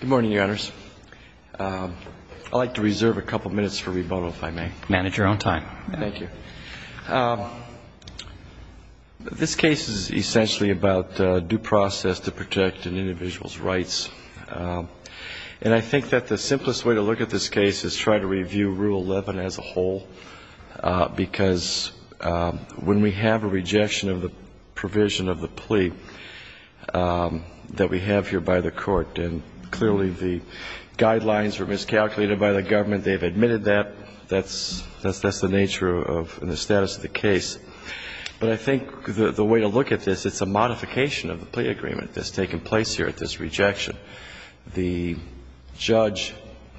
Good morning, Your Honors. I'd like to reserve a couple minutes for rebuttal, if I may. Manage your own time. Thank you. This case is essentially about due process to protect an individual's rights. And I think that the simplest way to look at this case is try to review Rule 11 as a whole, because when we have a rejection of the provision of the plea that we have here by the Court, and clearly the guidelines were miscalculated by the government, they've admitted that, that's the nature of and the status of the case. But I think the way to look at this, it's a modification of the plea agreement that's taken place here at this rejection. The judge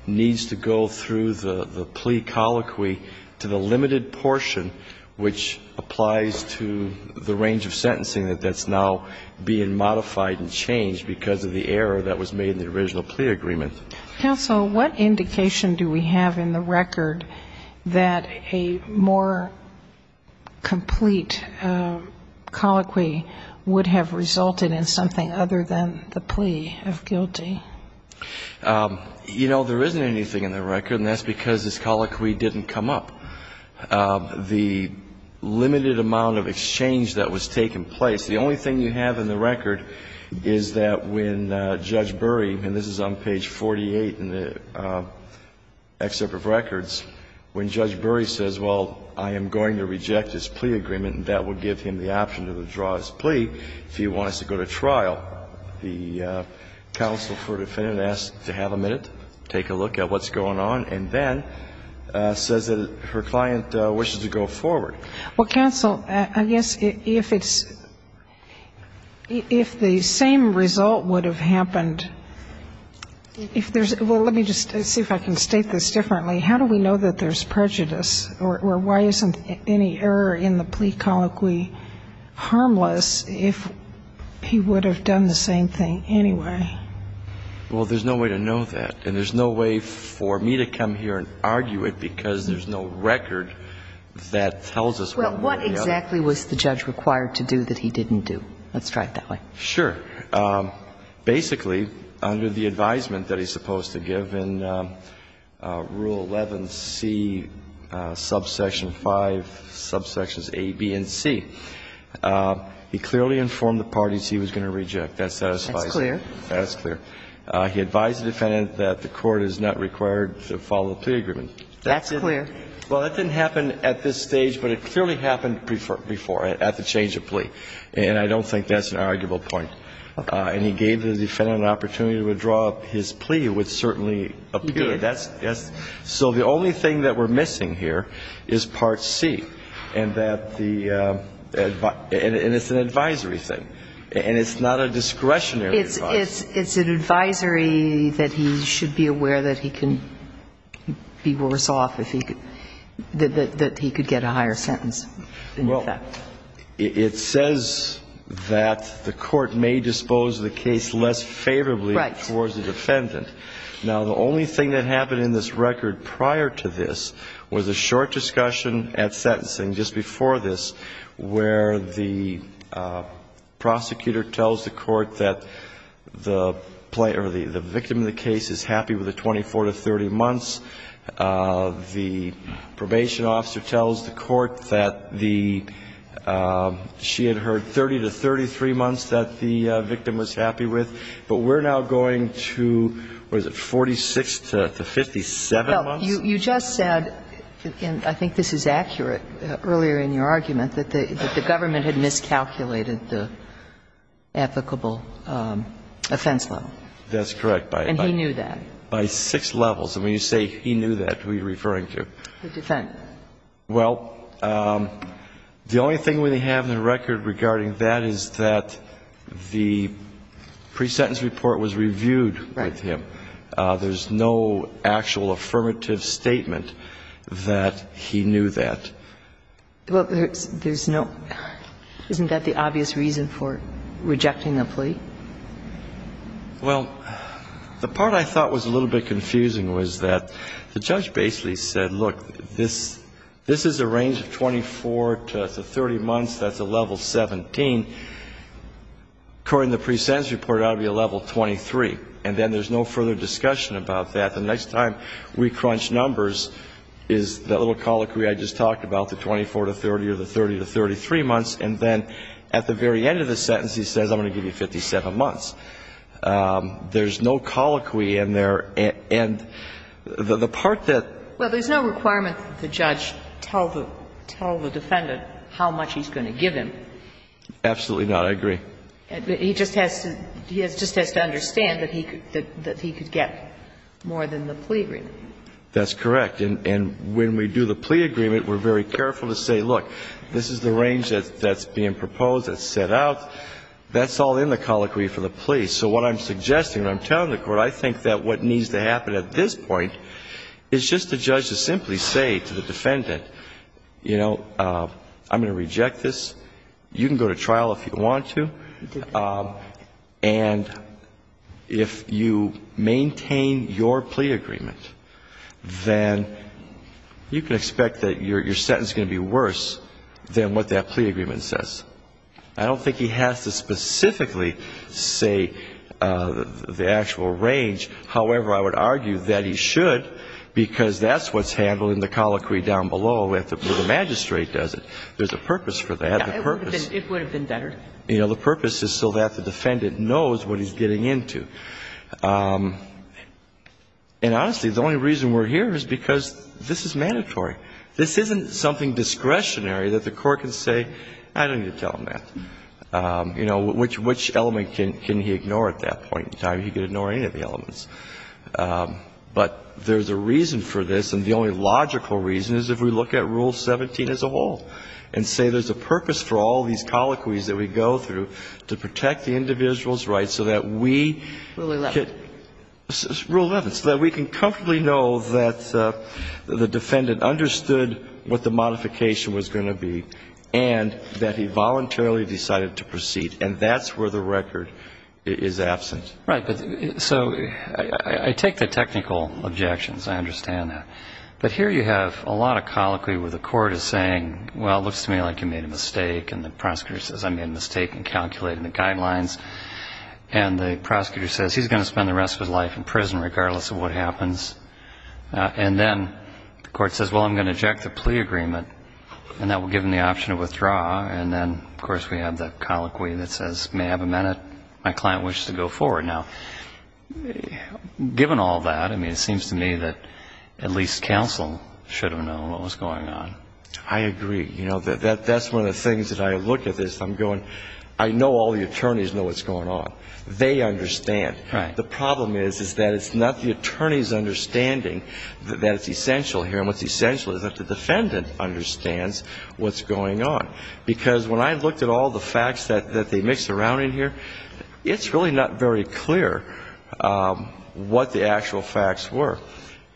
needs to go through the plea colloquy to the limited portion which applies to the range of sentencing that's now being modified and changed because of the error that was made in the original plea agreement. Counsel, what indication do we have in the record that a more complete colloquy would have resulted in something other than the plea of guilty? You know, there isn't anything in the record, and that's because this colloquy didn't come up. The limited amount of exchange that was taking place, the only thing you have in the record is that when Judge Burry, and this is on page 48 in the excerpt of records, when Judge Burry says, well, I am going to reject this plea agreement and that would give him the option to withdraw his plea if he wants to go to trial, the counsel for the defendant asks to have a minute, take a look at what's going on, and then says that her client wishes to go forward. Well, counsel, I guess if it's, if the same result would have happened, if there's, well, let me just see if I can state this differently. How do we know that there's prejudice, or why isn't any error in the plea colloquy harmless if he would have done the same thing anyway? Well, there's no way to know that, and there's no way for me to come here and argue it because there's no record that tells us what would have happened. Well, what exactly was the judge required to do that he didn't do? Let's try it that way. Sure. Basically, under the advisement that he's supposed to give in Rule 11c, subsection 5, subsections a, b, and c, he clearly informed the parties he was going to reject. That satisfies me. That's clear. That's clear. He advised the defendant that the court is not required to follow the plea agreement. That's clear. Well, that didn't happen at this stage, but it clearly happened before, at the change of plea. And I don't think that's an arguable point. Okay. And he gave the defendant an opportunity to withdraw his plea, which certainly appeared. He did. So the only thing that we're missing here is part c, and that the, and it's an advisory thing. And it's not a discretionary advice. It's an advisory that he should be aware that he can be worse off if he could, that he could get a higher sentence. Well, it says that the court may dispose of the case less favorably towards the defendant. Right. Now, the only thing that happened in this record prior to this was a short discussion just before this where the prosecutor tells the court that the victim of the case is happy with the 24 to 30 months. The probation officer tells the court that the, she had heard 30 to 33 months that the victim was happy with. But we're now going to, what is it, 46 to 57 months? Well, you just said, and I think this is accurate, earlier in your argument, that the government had miscalculated the applicable offense level. That's correct. And he knew that. By six levels. And when you say he knew that, who are you referring to? The defendant. Well, the only thing we have in the record regarding that is that the pre-sentence report was reviewed with him. Right. There's no actual affirmative statement that he knew that. Well, there's no, isn't that the obvious reason for rejecting the plea? Well, the part I thought was a little bit confusing was that the judge basically said, look, this is a range of 24 to 30 months, that's a level 17. According to the pre-sentence report, it ought to be a level 23. And then there's no further discussion about that. The next time we crunch numbers is the little colloquy I just talked about, the 24 to 30 or the 30 to 33 months, and then at the very end of the sentence he says, I'm going to give you 57 months. There's no colloquy in there. And the part that the judge told the defendant how much he's going to give him. Absolutely not. I agree. He just has to understand that he could get more than the plea agreement. That's correct. And when we do the plea agreement, we're very careful to say, look, this is the range that's being proposed, that's set out, that's all in the colloquy for the plea. So what I'm suggesting, what I'm telling the Court, I think that what needs to happen at this point is just the judge to simply say to the defendant, you know, I'm going to reject this. You can go to trial if you want to. And if you maintain your plea agreement, then you can expect that your sentence is going to be worse than what that plea agreement says. I don't think he has to specifically say the actual range. However, I would argue that he should because that's what's handled in the colloquy down below where the magistrate does it. There's a purpose for that. It would have been better. You know, the purpose is so that the defendant knows what he's getting into. And honestly, the only reason we're here is because this is mandatory. This isn't something discretionary that the Court can say, I don't need to tell him that. You know, which element can he ignore at that point in time? He can ignore any of the elements. But there's a reason for this, and the only logical reason is if we look at Rule 17 as a whole. And say there's a purpose for all these colloquies that we go through to protect the individual's rights so that we can comfortably know that the defendant understood what the modification was going to be and that he voluntarily decided to proceed, and that's where the record is absent. Right. So I take the technical objections. I understand that. But here you have a lot of colloquy where the court is saying, well, it looks to me like you made a mistake. And the prosecutor says, I made a mistake in calculating the guidelines. And the prosecutor says, he's going to spend the rest of his life in prison regardless of what happens. And then the court says, well, I'm going to eject the plea agreement. And that will give him the option of withdrawal. And then, of course, we have the colloquy that says, may I have a minute? My client wishes to go forward. Now, given all that, I mean, it seems to me that at least counsel should have known what was going on. I agree. You know, that's one of the things that I look at this. I'm going, I know all the attorneys know what's going on. They understand. Right. The problem is, is that it's not the attorney's understanding that it's essential here, and what's essential is that the defendant understands what's going on. Because when I looked at all the facts that they mixed around in here, it's really not very clear what the actual facts were.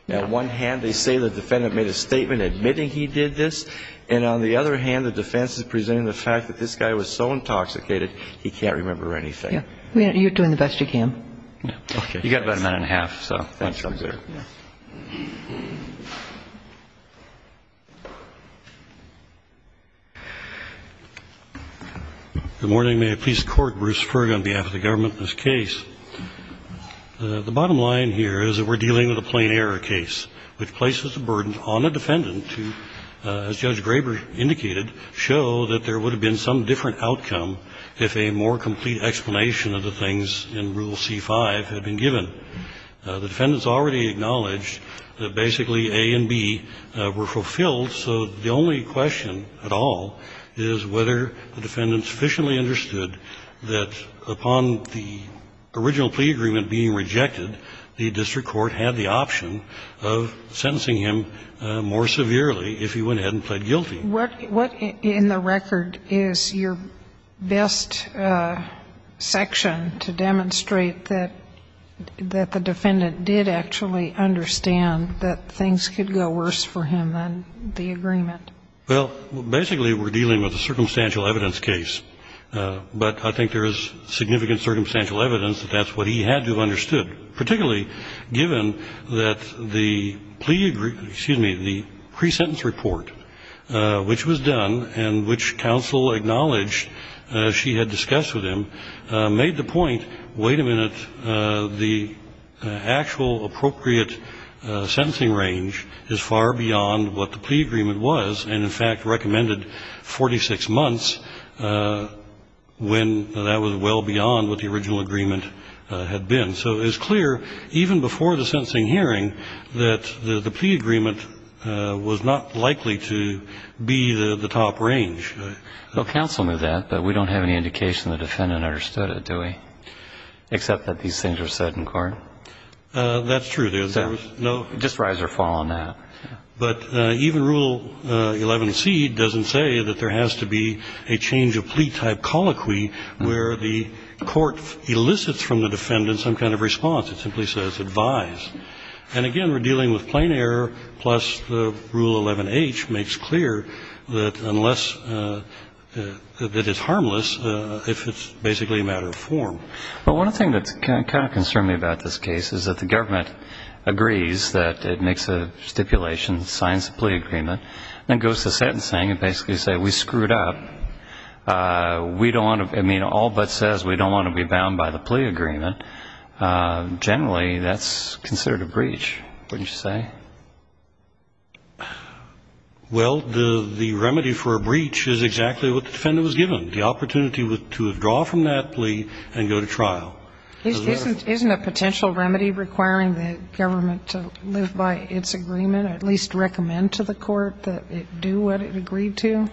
On one hand, they say the defendant made a statement admitting he did this. And on the other hand, the defense is presenting the fact that this guy was so intoxicated, he can't remember anything. Yeah. You're doing the best you can. Okay. You've got about a minute and a half, so. Thanks. I'm good. Good morning. May I please court Bruce Ferg on behalf of the government in this case. The bottom line here is that we're dealing with a plain error case, which places a burden on a defendant to, as Judge Graber indicated, show that there would have been some different outcome if a more complete explanation of the things in Rule C-5 had been given. The defendants already acknowledged that basically A and B were fulfilled, so the only question at all is whether the defendant sufficiently understood that upon the original plea agreement being rejected, the district court had the option of sentencing him more severely if he went ahead and pled guilty. What in the record is your best section to demonstrate that the defendant did actually understand that things could go worse for him than the agreement? Well, basically we're dealing with a circumstantial evidence case, but I think there is significant circumstantial evidence that that's what he had to have understood, particularly given that the pre-sentence report, which was done and which counsel acknowledged she had discussed with him, made the point, wait a minute, the actual appropriate sentencing range is far beyond what the plea agreement was and, in fact, recommended 46 months when that was well beyond what the original agreement had been. And so it's clear, even before the sentencing hearing, that the plea agreement was not likely to be the top range. Well, counsel knew that, but we don't have any indication the defendant understood it, do we, except that these things are set in court? That's true. So just rise or fall on that. But even Rule 11c doesn't say that there has to be a change of plea-type colloquy where the court elicits from the defendant some kind of response. It simply says advise. And, again, we're dealing with plain error, plus the Rule 11h makes clear that unless it is harmless, if it's basically a matter of form. Well, one thing that's kind of concerned me about this case is that the government agrees that it makes a stipulation, signs the plea agreement, then goes to sentencing and basically says we screwed up. We don't want to, I mean, all but says we don't want to be bound by the plea agreement. Generally, that's considered a breach, wouldn't you say? Well, the remedy for a breach is exactly what the defendant was given, the opportunity to withdraw from that plea and go to trial. Isn't a potential remedy requiring the government to live by its agreement, at least recommend to the court that it do what it agreed to?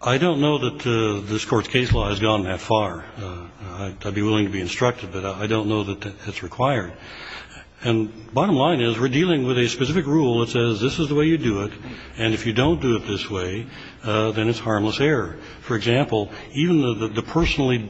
I don't know that this Court's case law has gone that far. I'd be willing to be instructed, but I don't know that it's required. And bottom line is we're dealing with a specific rule that says this is the way you do it, and if you don't do it this way, then it's harmless error. For example, even the personally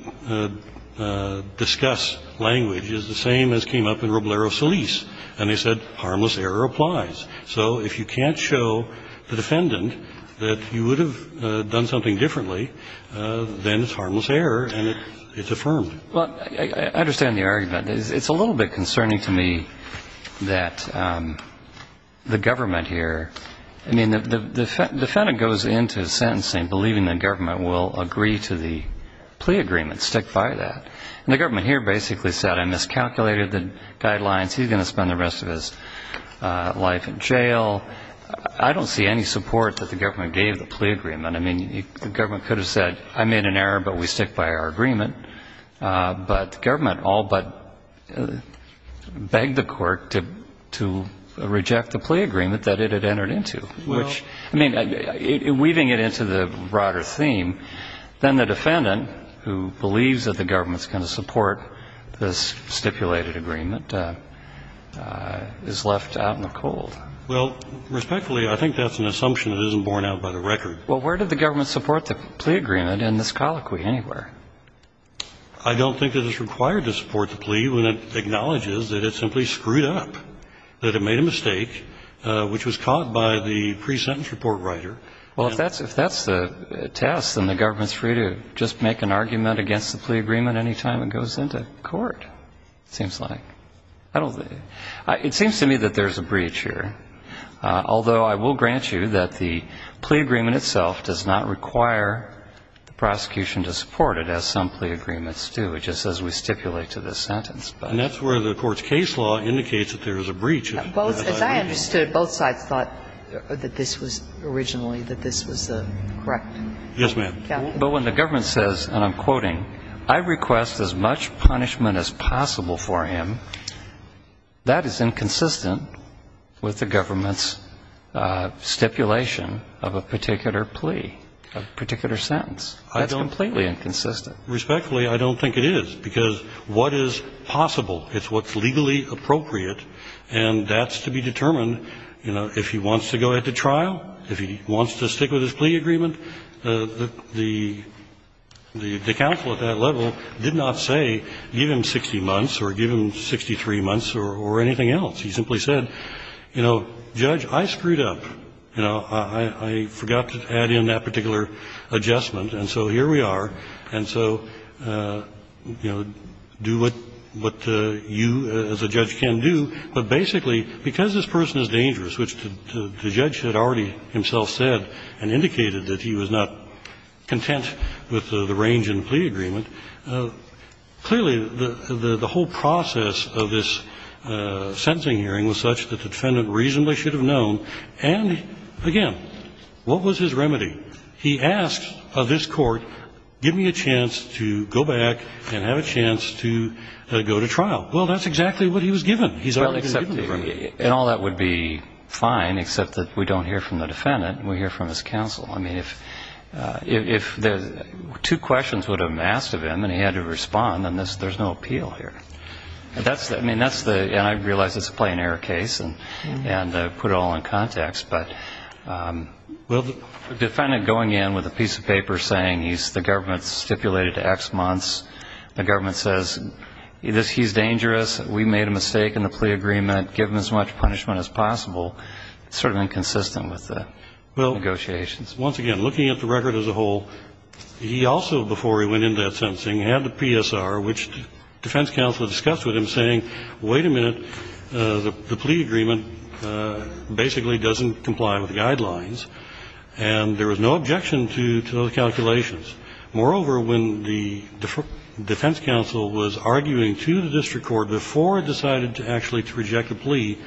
discussed language is the same as came up in Roblero Solis, and they said harmless error applies. So if you can't show the defendant that you would have done something differently, then it's harmless error and it's affirmed. Well, I understand the argument. It's a little bit concerning to me that the government here, I mean, the defendant goes into sentencing believing the government will agree to the plea agreement, stick by that. And the government here basically said I miscalculated the guidelines, he's going to spend the rest of his life in jail. I don't see any support that the government gave the plea agreement. I mean, the government could have said I made an error, but we stick by our agreement. But the government all but begged the court to reject the plea agreement that it had entered into, which, I mean, weaving it into the broader theme, then the defendant who believes that the government's going to support this stipulated agreement is left out in the cold. Well, respectfully, I think that's an assumption that isn't borne out by the record. Well, where did the government support the plea agreement in this colloquy anywhere? I don't think that it's required to support the plea when it acknowledges that it simply screwed up, that it made a mistake, which was caught by the pre-sentence report writer. Well, if that's the test, then the government's free to just make an argument against the plea agreement any time it goes into court, it seems like. It seems to me that there's a breach here, although I will grant you that the plea agreement itself does not require the prosecution to support it, as some plea agreements do, it just says we stipulate to this sentence. And that's where the Court's case law indicates that there is a breach. Well, as I understood, both sides thought that this was originally, that this was correct. Yes, ma'am. But when the government says, and I'm quoting, I request as much punishment as possible for him, that is inconsistent with the government's stipulation of a particular plea, a particular sentence. That's completely inconsistent. Respectfully, I don't think it is, because what is possible, it's what's legally appropriate, and that's to be determined, you know, if he wants to go into trial, if he wants to stick with his plea agreement. The counsel at that level did not say, give him 60 months or give him 63 months or anything else. He simply said, you know, Judge, I screwed up. You know, I forgot to add in that particular adjustment, and so here we are. And so, you know, do what you as a judge can do. But basically, because this person is dangerous, which the judge had already himself said and indicated that he was not content with the range in the plea agreement, clearly the whole process of this sentencing hearing was such that the defendant reasonably should have known, and again, what was his remedy? He asked this court, give me a chance to go back and have a chance to go to trial. Well, that's exactly what he was given. He's already been given the remedy. And all that would be fine, except that we don't hear from the defendant. We hear from his counsel. I mean, if two questions would have been asked of him and he had to respond, then there's no appeal here. I mean, that's the, and I realize it's a plain error case and put it all in context, but the defendant going in with a piece of paper saying he's, the government stipulated to X months, the government says he's dangerous, we made a mistake in the plea agreement, give him as much punishment as possible. It's sort of inconsistent with the negotiations. Once again, looking at the record as a whole, he also, before he went into that sentencing, had the PSR, which defense counsel discussed with him, saying, wait a minute, the plea agreement basically doesn't comply with the guidelines. And there was no objection to those calculations. Moreover, when the defense counsel was arguing to the district court before it decided to actually to reject the plea,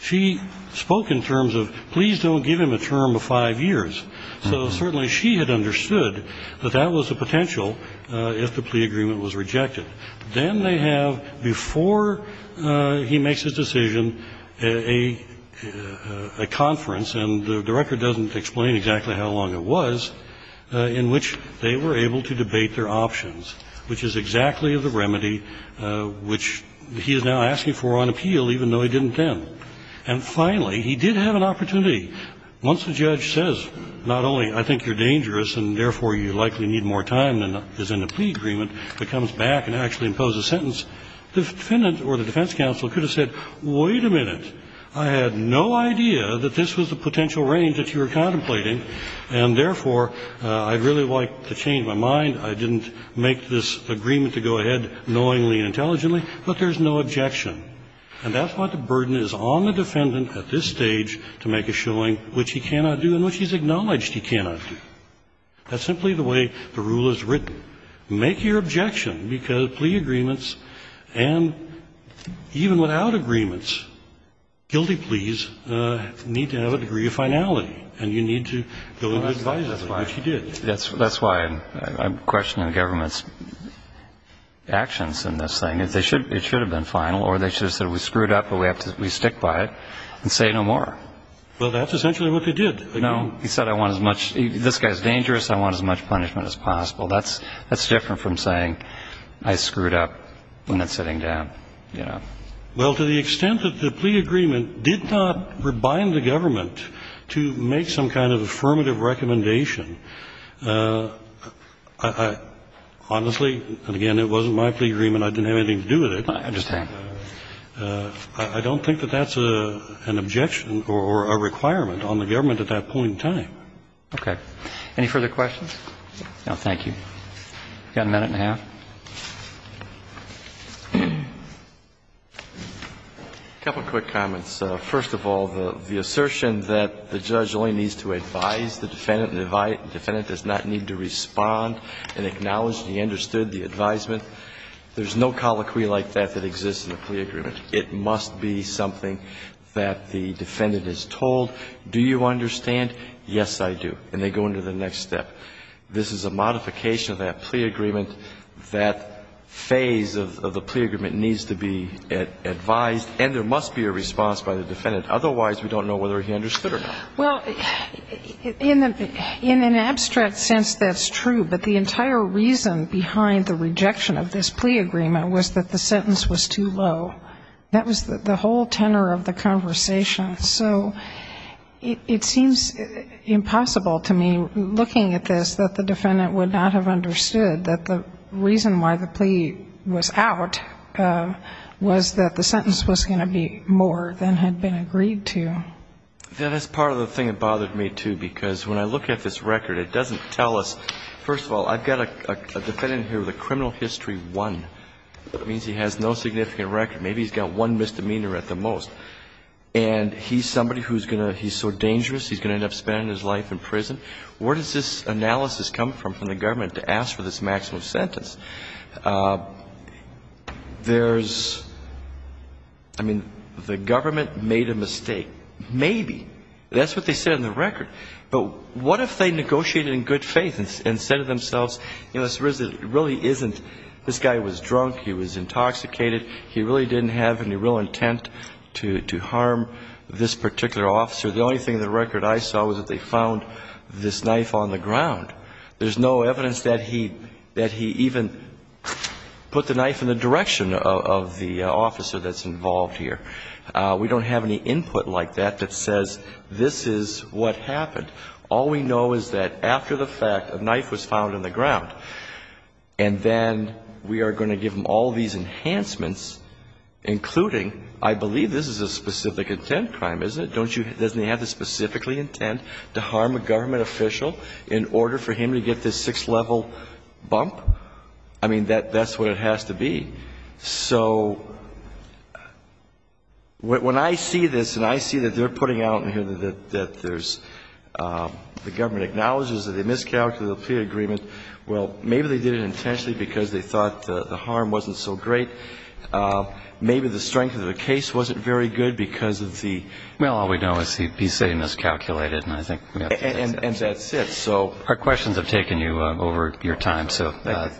she spoke in terms of please don't give him a term of 5 years. So certainly she had understood that that was a potential if the plea agreement was rejected. Then they have, before he makes his decision, a conference, and the record doesn't explain exactly how long it was, in which they were able to debate their options, which is exactly the remedy which he is now asking for on appeal, even though he didn't then. And finally, he did have an opportunity. Once the judge says not only I think you're dangerous and therefore you likely need more time than is in the plea agreement, but comes back and actually imposes a sentence, the defendant or the defense counsel could have said, wait a minute, I had no idea that this was the potential range that you were contemplating, and therefore I'd really like to change my mind. I didn't make this agreement to go ahead knowingly and intelligently, but there's no objection. And that's what the burden is on the defendant at this stage to make a showing which he cannot do and which he's acknowledged he cannot do. That's simply the way the rule is written. Make your objection, because plea agreements and even without agreements, guilty pleas need to have a degree of finality, and you need to go in and advise them, which you did. That's why I'm questioning the government's actions in this thing. It should have been final, or they should have said we screwed up, but we stick by it and say no more. Well, that's essentially what they did. No, he said I want as much. This guy's dangerous. I want as much punishment as possible. That's different from saying I screwed up when it's sitting down, you know. Well, to the extent that the plea agreement did not rebind the government to make some kind of affirmative recommendation, I honestly, and again, it wasn't my plea agreement. I didn't have anything to do with it. I understand. I don't think that that's an objection or a requirement on the government at that point in time. Okay. Any further questions? No, thank you. We've got a minute and a half. A couple of quick comments. First of all, the assertion that the judge only needs to advise the defendant and the defendant does not need to respond and acknowledge he understood the advisement, there's no colloquy like that that exists in a plea agreement. It must be something that the defendant is told. Do you understand? Yes, I do. And they go into the next step. This is a modification of that plea agreement. That phase of the plea agreement needs to be advised. And there must be a response by the defendant. Otherwise, we don't know whether he understood or not. Well, in an abstract sense, that's true. But the entire reason behind the rejection of this plea agreement was that the sentence was too low. That was the whole tenor of the conversation. So it seems impossible to me, looking at this, that the defendant would not have understood that the reason why the plea was out was that the sentence was going to be more than had been agreed to. That is part of the thing that bothered me, too, because when I look at this record it doesn't tell us, first of all, I've got a defendant here with a criminal history one. That means he has no significant record. Maybe he's got one misdemeanor at the most. And he's somebody who's going to, he's so dangerous, he's going to end up spending his life in prison. Where does this analysis come from, from the government, to ask for this maximum sentence? There's, I mean, the government made a mistake. Maybe. That's what they said in the record. But what if they negotiated in good faith and said to themselves, you know, this really isn't, this guy was drunk, he was intoxicated, he really didn't have any real intent to harm this particular officer. The only thing in the record I saw was that they found this knife on the ground. There's no evidence that he even put the knife in the direction of the officer that's involved here. We don't have any input like that that says this is what happened. All we know is that after the fact, a knife was found in the ground, and then we are going to give them all these enhancements, including, I believe this is a specific intent crime, isn't it? Doesn't he have the specific intent to harm a government official in order for him to get this sixth-level bump? I mean, that's what it has to be. So when I see this and I see that they're putting out here that there's, the government acknowledges that they miscalculated the plea agreement, well, maybe they did it intentionally because they thought the harm wasn't so great. Maybe the strength of the case wasn't very good because of the... Well, all we know is he miscalculated, and I think we have to... And that's it, so... Our questions have taken you over your time, so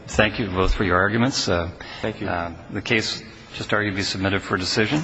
thank you both for your arguments. Thank you. The case, just argue to be submitted for decision.